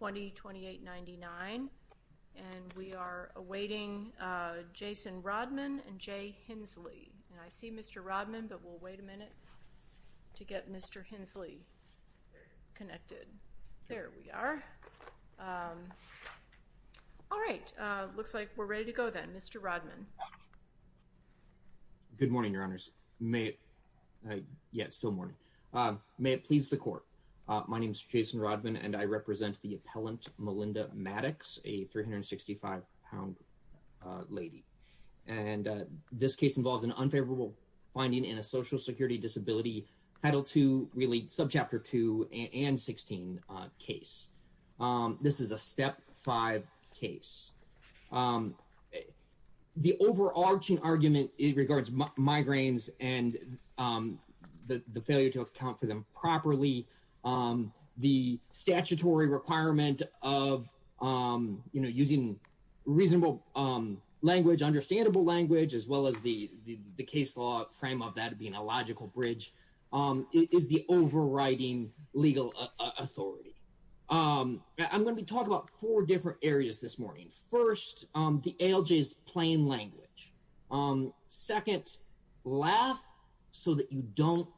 2028-99. And we are awaiting Jason Rodman and Jay Hensley. And I see Mr. Rodman, but we'll wait a minute to get Mr. Hensley connected. There we are. All right. Looks like we're ready to go then. Mr. Rodman. Good morning, Your Honors. Yeah, it's still morning. May it please the court. My name is Jason Rodman, and I represent the appellant Melinda Maddox, a 365-pound lady. And this case involves an unfavorable finding in a Social Security Disability Title II, really subchapter 2, and 16 case. This is a Step 5 case. The overarching argument regards migraines and the failure to account for them properly. The statutory requirement of using reasonable language, understandable language, as well as the case law frame of that being a logical bridge, is the overriding legal authority. I'm going to be talking about four different areas this morning. First, the ALJ's plain language. Second, laugh so that you don't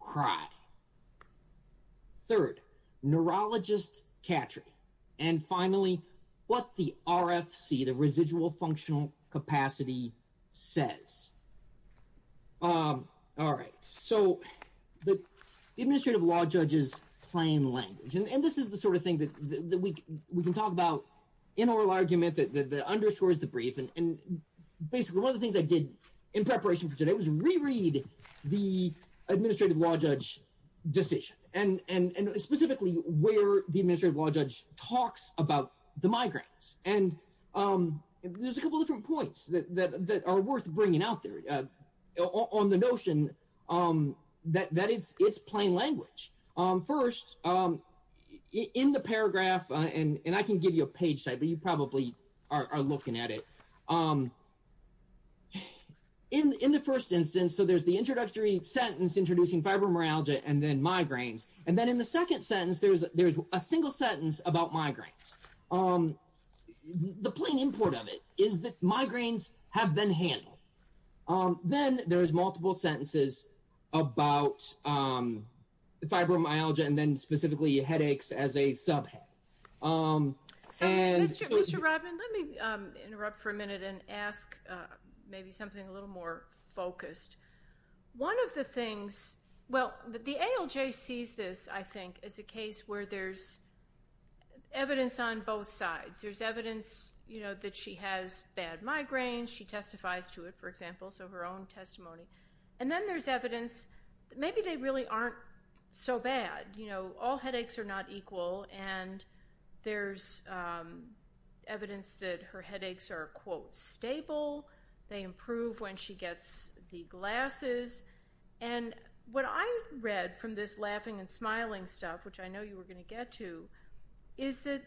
cry. Third, neurologist catcher. And finally, what the RFC, the residual functional capacity, says. All right. So the Administrative Law Judge's plain language. And this is the sort of thing that we can talk about in oral argument that underscores the brief. And basically, one of the things I did in preparation for today was reread the Administrative Law Judge decision and specifically where the Administrative Law Judge talks about the migraines. And there's a couple different points that are worth bringing out there on the notion that it's plain language. First, in the paragraph, and I can give you a page site, but you probably are looking at it. In the first instance, so there's the introductory sentence introducing fibromyalgia and then migraines. And then in the second sentence, there's a single sentence about migraines. The plain import of it is that migraines have been handled. Then there's multiple sentences about fibromyalgia and then specifically headaches as a subhead. So, Mr. Rodman, let me interrupt for a minute and ask maybe something a little more focused. One of the things – well, the ALJ sees this, I think, as a case where there's evidence on both sides. There's evidence that she has bad migraines. She testifies to it, for example, so her own testimony. And then there's evidence that maybe they really aren't so bad. All headaches are not equal and there's evidence that her headaches are, quote, stable. They improve when she gets the glasses. And what I read from this laughing and smiling stuff, which I know you were going to get to, is that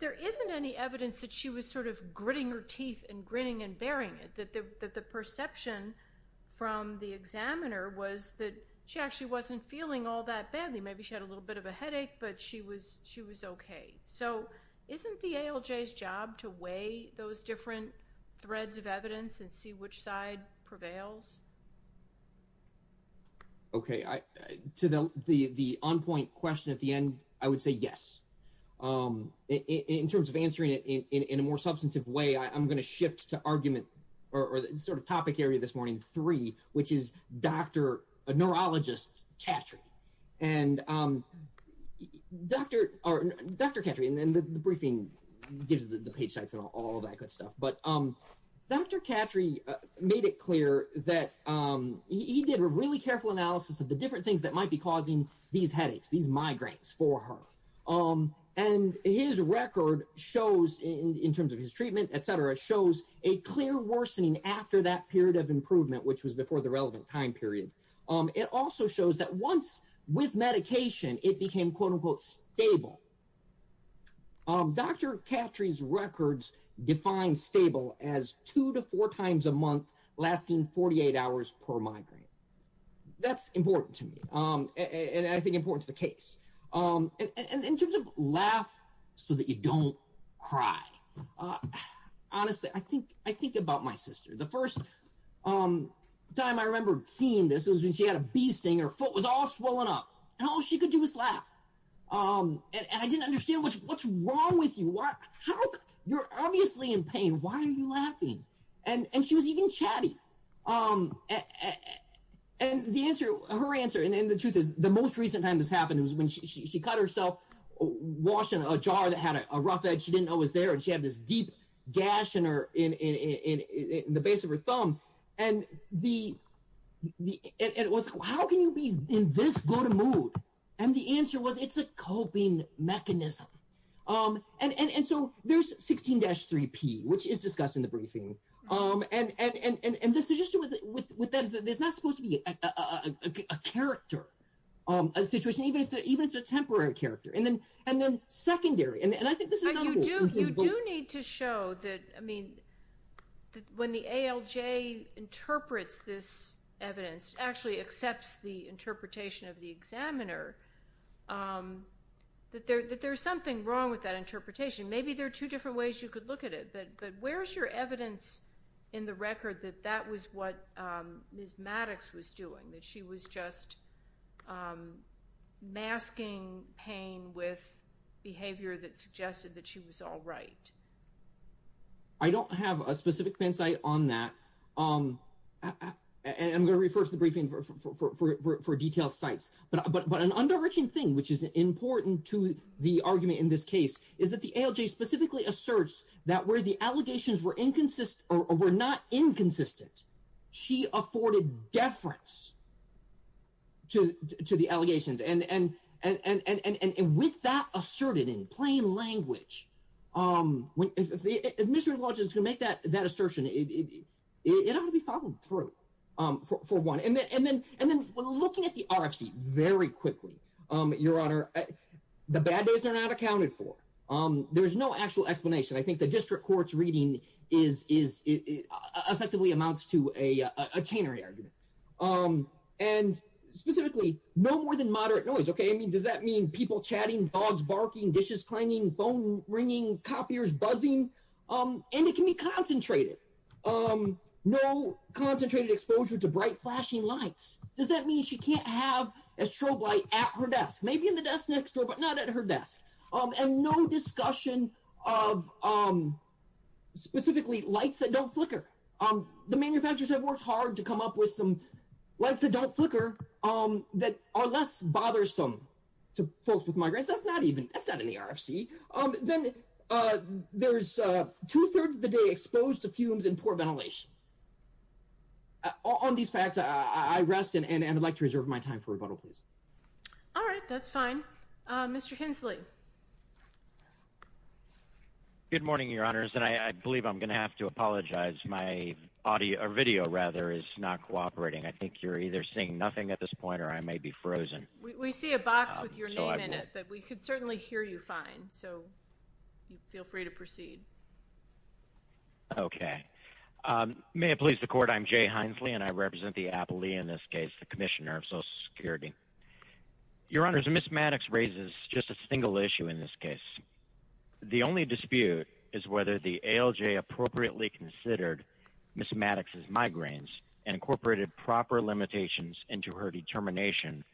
there isn't any evidence that she was sort of gritting her teeth and grinning and bearing it, that the perception from the examiner was that she actually wasn't feeling all that badly. Maybe she had a little bit of a headache, but she was okay. So isn't the ALJ's job to weigh those different threads of evidence and see which side prevails? Okay. To the on-point question at the end, I would say yes. In terms of answering it in a more substantive way, I'm going to shift to argument – or sort of topic area this morning, three, which is Dr. Neurologist Cattry. And Dr. Cattry – and the briefing gives the page sites and all that good stuff – but Dr. Cattry made it clear that he did a really careful analysis of the different things that might be causing these headaches, these migraines for her. And his record shows – in terms of his treatment, etc. – shows a clear worsening after that period of improvement, which was before the relevant time period. It also shows that once, with medication, it became quote-unquote stable. Dr. Cattry's records define stable as two to four times a month, lasting 48 hours per migraine. That's important to me, and I think important to the case. In terms of laugh so that you don't cry, honestly, I think about my sister. The first time I remember seeing this was when she had a bee sting. Her foot was all swollen up, and all she could do was laugh. And I didn't understand what's wrong with you. You're obviously in pain. Why are you laughing? And she was even chatty. And her answer – and the truth is, the most recent time this happened was when she cut herself washing a jar that had a rough edge. She didn't know it was there, and she had this deep gash in the base of her thumb. And it was, how can you be in this good a mood? And the answer was, it's a coping mechanism. And so there's 16-3P, which is discussed in the briefing. And the suggestion with that is that there's not supposed to be a character, a situation, even if it's a temporary character, and then secondary. And I think this is not important. But you do need to show that, I mean, when the ALJ interprets this evidence, actually accepts the interpretation of the examiner, that there's something wrong with that interpretation. Maybe there are two different ways you could look at it, but where's your evidence in the record that that was what Ms. Maddox was doing? That she was just masking pain with behavior that suggested that she was all right? I don't have a specific hindsight on that, and I'm going to refer to the briefing for detailed sites. But an under-reaching thing, which is important to the argument in this case, is that the ALJ specifically asserts that where the allegations were not inconsistent, she afforded deference to the allegations. And with that asserted in plain language, if the administrative college is going to make that assertion, it ought to be followed through, for one. And then looking at the RFC very quickly, Your Honor, the bad days are not accounted for. There's no actual explanation. I think the district court's reading effectively amounts to a chain re-argument. And specifically, no more than moderate noise, okay? I mean, does that mean people chatting, dogs barking, dishes clanging, phone ringing, copiers buzzing? And it can be concentrated. No concentrated exposure to bright, flashing lights. Does that mean she can't have a strobe light at her desk? Maybe in the desk next door, but not at her desk. And no discussion of, specifically, lights that don't flicker. The manufacturers have worked hard to come up with some lights that don't flicker, that are less bothersome to folks with migraines. That's not in the RFC. Then there's two-thirds of the day exposed to fumes and poor ventilation. On these facts, I rest, and I'd like to reserve my time for rebuttal, please. All right, that's fine. Mr. Hensley. Good morning, Your Honors, and I believe I'm going to have to apologize. My audio, or video, rather, is not cooperating. I think you're either seeing nothing at this point, or I may be frozen. We see a box with your name in it, but we could certainly hear you fine, so feel free to proceed. Okay. May it please the Court, I'm Jay Hensley, and I represent the Applee, in this case, the Commissioner of Social Security. Your Honors, Ms. Maddox raises just a single issue in this case. The only dispute is whether the ALJ appropriately considered Ms. Maddox's migraines and incorporated proper limitations into her determination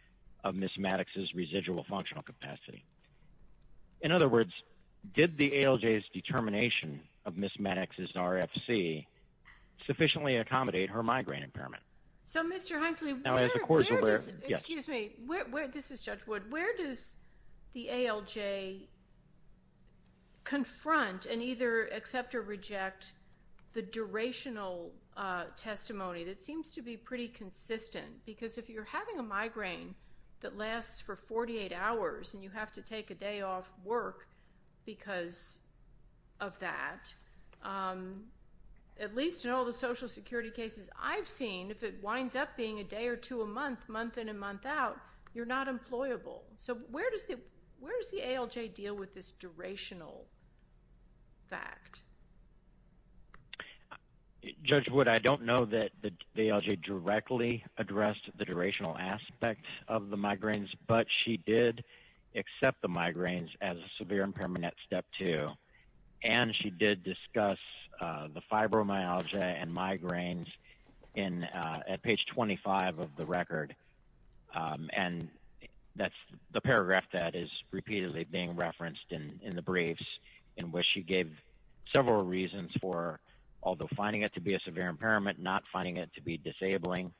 of Ms. Maddox's residual functional capacity. In other words, did the ALJ's determination of Ms. Maddox's RFC sufficiently accommodate her migraine impairment? So, Mr. Hensley, where does, excuse me, this is Judge Wood, where does the ALJ confront and either accept or reject the durational testimony that seems to be pretty consistent? Because if you're having a migraine that lasts for 48 hours and you have to take a day off work because of that, at least in all the Social Security cases I've seen, if it winds up being a day or two a month, month in and month out, you're not employable. So, where does the ALJ deal with this durational fact? Judge Wood, I don't know that the ALJ directly addressed the durational aspect of the migraines, but she did accept the migraines as a severe impairment at Step 2. And she did discuss the fibromyalgia and migraines at page 25 of the record. And that's the paragraph that is repeatedly being referenced in the briefs in which she gave several reasons for, although finding it to be a severe impairment, not finding it to be disabling,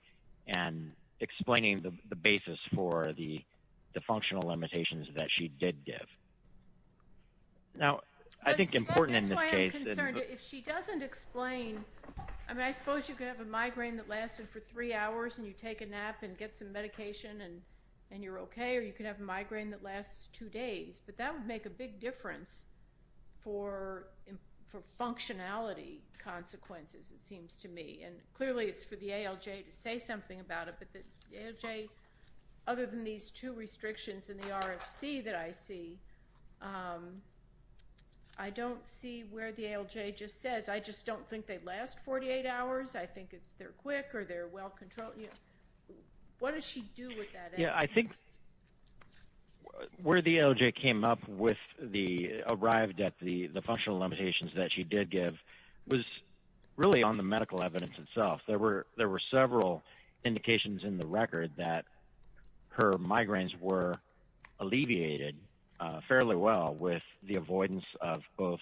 and explaining the basis for the functional limitations that she did give. That's why I'm concerned. If she doesn't explain, I mean, I suppose you could have a migraine that lasted for three hours and you take a nap and get some medication and you're okay, or you could have a migraine that lasts two days. But that would make a big difference for functionality consequences, it seems to me. And clearly it's for the ALJ to say something about it. But the ALJ, other than these two restrictions in the RFC that I see, I don't see where the ALJ just says. I just don't think they last 48 hours. I think it's they're quick or they're well controlled. What does she do with that evidence? Yeah, I think where the ALJ came up with the, arrived at the functional limitations that she did give was really on the medical evidence itself. There were several indications in the record that her migraines were alleviated fairly well with the avoidance of both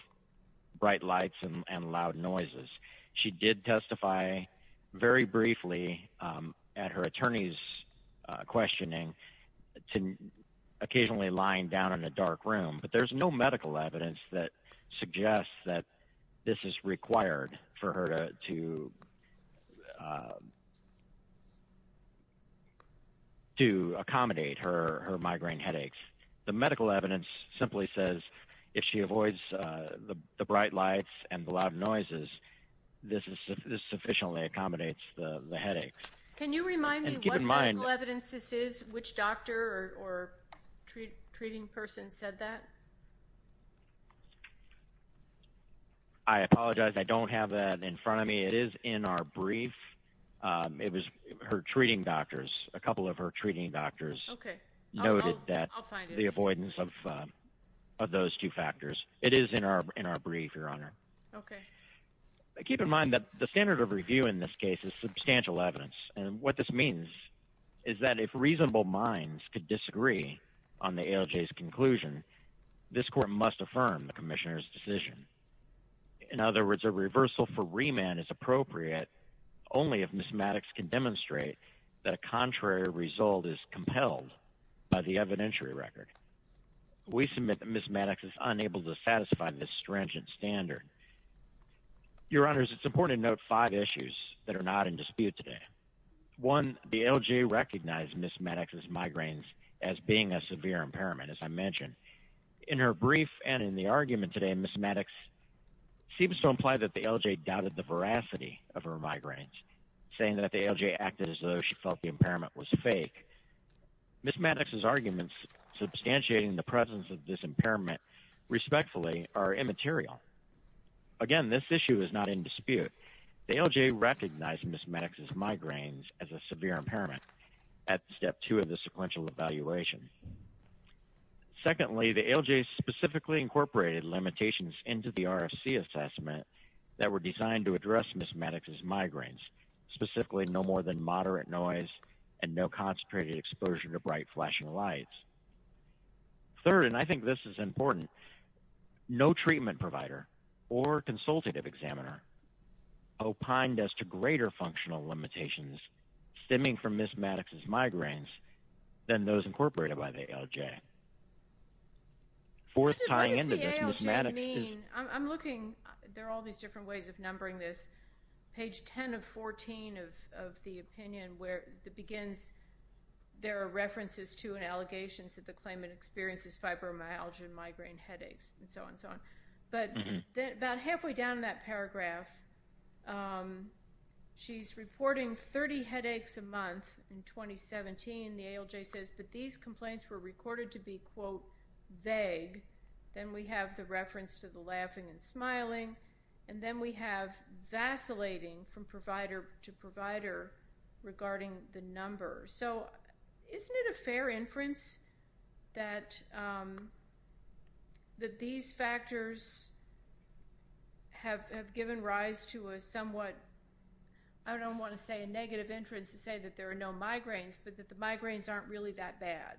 bright lights and loud noises. She did testify very briefly at her attorney's questioning to occasionally lying down in a dark room. But there's no medical evidence that suggests that this is required for her to accommodate her migraine headaches. The medical evidence simply says if she avoids the bright lights and the loud noises, this sufficiently accommodates the headaches. Can you remind me what medical evidence this is? Which doctor or treating person said that? I apologize. I don't have that in front of me. It is in our brief. It was her treating doctors, a couple of her treating doctors noted that. I'll find it. The avoidance of those two factors. It is in our brief, Your Honor. Okay. Keep in mind that the standard of review in this case is substantial evidence. And what this means is that if reasonable minds could disagree on the ALJ's conclusion, this court must affirm the commissioner's decision. In other words, a reversal for remand is appropriate only if Ms. Maddox can demonstrate that a contrary result is compelled by the evidentiary record. We submit that Ms. Maddox is unable to satisfy this stringent standard. Your Honors, it's important to note five issues that are not in dispute today. One, the ALJ recognized Ms. Maddox's migraines as being a severe impairment, as I mentioned. In her brief and in the argument today, Ms. Maddox seems to imply that the ALJ doubted the veracity of her migraines, saying that the ALJ acted as though she felt the impairment was fake. Ms. Maddox's arguments substantiating the presence of this impairment respectfully are immaterial. Again, this issue is not in dispute. The ALJ recognized Ms. Maddox's migraines as a severe impairment at step two of the sequential evaluation. Secondly, the ALJ specifically incorporated limitations into the RFC assessment that were designed to address Ms. Maddox's migraines, specifically no more than moderate noise and no concentrated exposure to bright flashing lights. Third, and I think this is important, no treatment provider or consultative examiner opined as to greater functional limitations stemming from Ms. Maddox's migraines than those incorporated by the ALJ. What does the ALJ mean? I'm looking, there are all these different ways of numbering this. Page 10 of 14 of the opinion where it begins, there are references to and allegations that the claimant experiences fibromyalgia and migraine headaches and so on and so on. But about halfway down that paragraph, she's reporting 30 headaches a month in 2017. The ALJ says, but these complaints were recorded to be, quote, vague. Then we have the reference to the laughing and smiling. And then we have vacillating from provider to provider regarding the number. So, isn't it a fair inference that these factors have given rise to a somewhat, I don't want to say a negative inference to say that there are no migraines, but that the migraines aren't really that bad?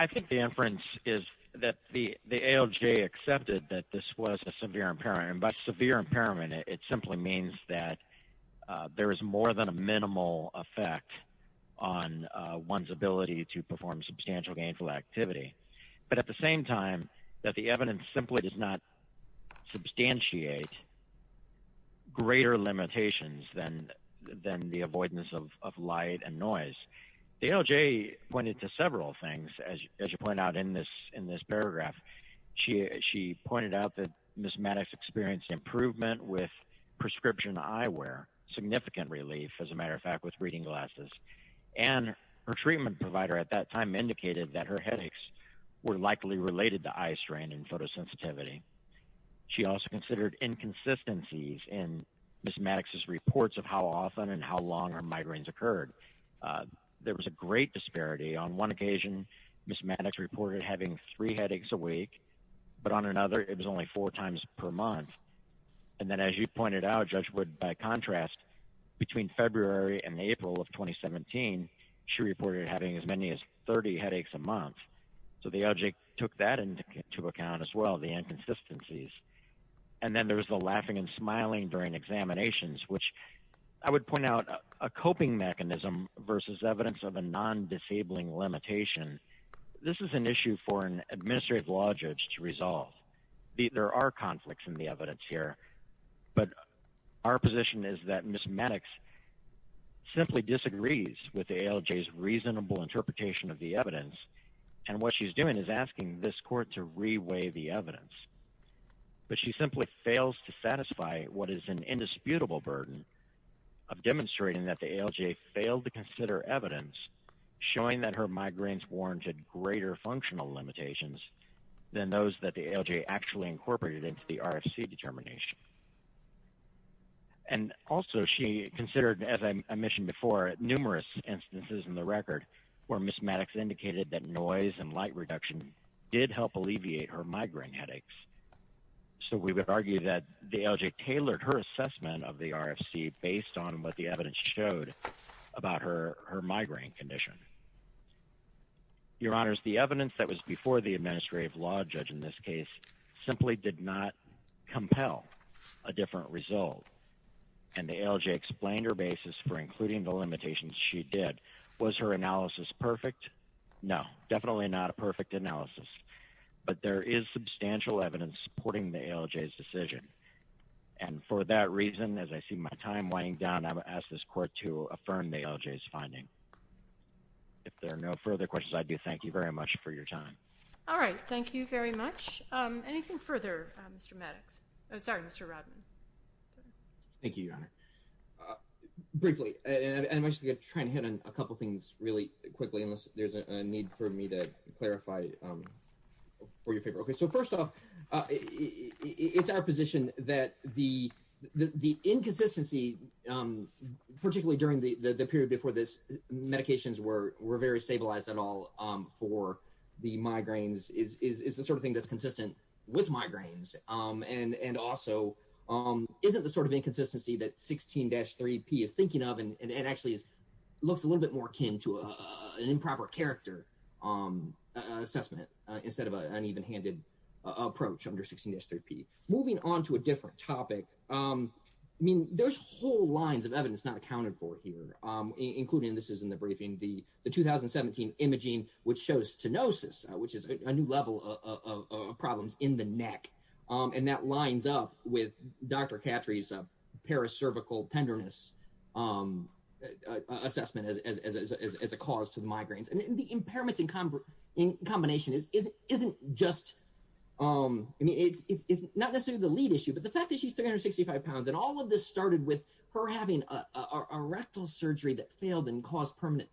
I think the inference is that the ALJ accepted that this was a severe impairment. By severe impairment, it simply means that there is more than a minimal effect on one's ability to perform substantial gainful activity. But at the same time, that the evidence simply does not substantiate greater limitations than the avoidance of light and noise. The ALJ pointed to several things, as you point out in this paragraph. She pointed out that Ms. Maddox experienced improvement with prescription eyewear, significant relief, as a matter of fact, with reading glasses. And her treatment provider at that time indicated that her headaches were likely related to eye strain and photosensitivity. She also considered inconsistencies in Ms. Maddox's reports of how often and how long her migraines occurred. There was a great disparity. On one occasion, Ms. Maddox reported having three headaches a week. But on another, it was only four times per month. And then as you pointed out, Judge Wood, by contrast, between February and April of 2017, she reported having as many as 30 headaches a month. So the ALJ took that into account as well, the inconsistencies. And then there was the laughing and smiling during examinations, which I would point out a coping mechanism versus evidence of a non-disabling limitation. This is an issue for an administrative law judge to resolve. There are conflicts in the evidence here. But our position is that Ms. Maddox simply disagrees with the ALJ's reasonable interpretation of the evidence. And what she's doing is asking this court to reweigh the evidence. But she simply fails to satisfy what is an indisputable burden of demonstrating that the ALJ failed to consider evidence showing that her migraines warranted greater functional limitations than those that the ALJ actually incorporated into the RFC determination. And also she considered, as I mentioned before, numerous instances in the record where Ms. Maddox indicated that noise and light reduction did help alleviate her migraine headaches. So we would argue that the ALJ tailored her assessment of the RFC based on what the evidence showed about her migraine condition. Your Honors, the evidence that was before the administrative law judge in this case simply did not compel a different result. And the ALJ explained her basis for including the limitations she did. Was her analysis perfect? No, definitely not a perfect analysis. But there is substantial evidence supporting the ALJ's decision. And for that reason, as I see my time winding down, I will ask this court to affirm the ALJ's finding. If there are no further questions, I do thank you very much for your time. All right, thank you very much. Anything further, Mr. Maddox? Sorry, Mr. Rodman. Thank you, Your Honor. Briefly, and I'm actually trying to hit on a couple things really quickly unless there's a need for me to clarify for your favor. Okay, so first off, it's our position that the inconsistency, particularly during the period before this, medications were very stabilized at all for the migraines, is the sort of thing that's consistent with migraines. And also, isn't the sort of inconsistency that 16-3P is thinking of and actually looks a little bit more akin to an improper character assessment instead of an evenhanded approach under 16-3P. Moving on to a different topic, I mean, there's whole lines of evidence not accounted for here, including, this is in the briefing, the 2017 imaging, which shows stenosis, which is a new level of problems in the neck. And that lines up with Dr. Khatri's paracervical tenderness assessment as a cause to the migraines. And the impairments in combination isn't just, I mean, it's not necessarily the lead issue, but the fact that she's 365 pounds and all of this started with her having a rectal surgery that failed and caused permanent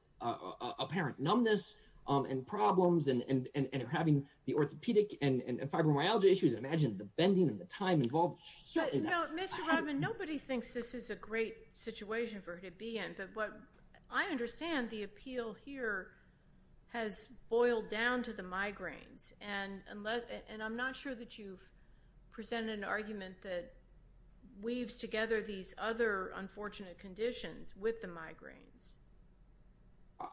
apparent numbness and problems and having the orthopedic and fibromyalgia issues. Imagine the bending and the time involved. Mr. Rodman, nobody thinks this is a great situation for her to be in. But I understand the appeal here has boiled down to the migraines. And I'm not sure that you've presented an argument that weaves together these other unfortunate conditions with the migraines.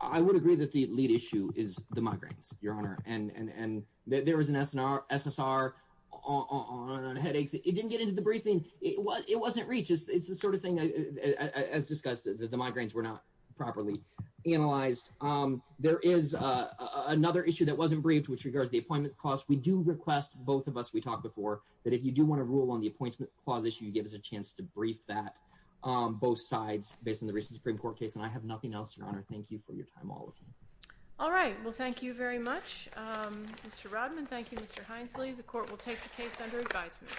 I would agree that the lead issue is the migraines, Your Honor. And there was an SSR on headaches. It didn't get into the briefing. It wasn't reached. It's the sort of thing, as discussed, that the migraines were not properly analyzed. There is another issue that wasn't briefed, which regards the appointment clause. We do request, both of us, we talked before, that if you do want to rule on the appointment clause issue, you give us a chance to brief that, both sides, based on the recent Supreme Court case. And I have nothing else, Your Honor. Thank you for your time, all of you. All right. Well, thank you very much, Mr. Rodman. Thank you, Mr. Hinesley. The court will take the case under advisement.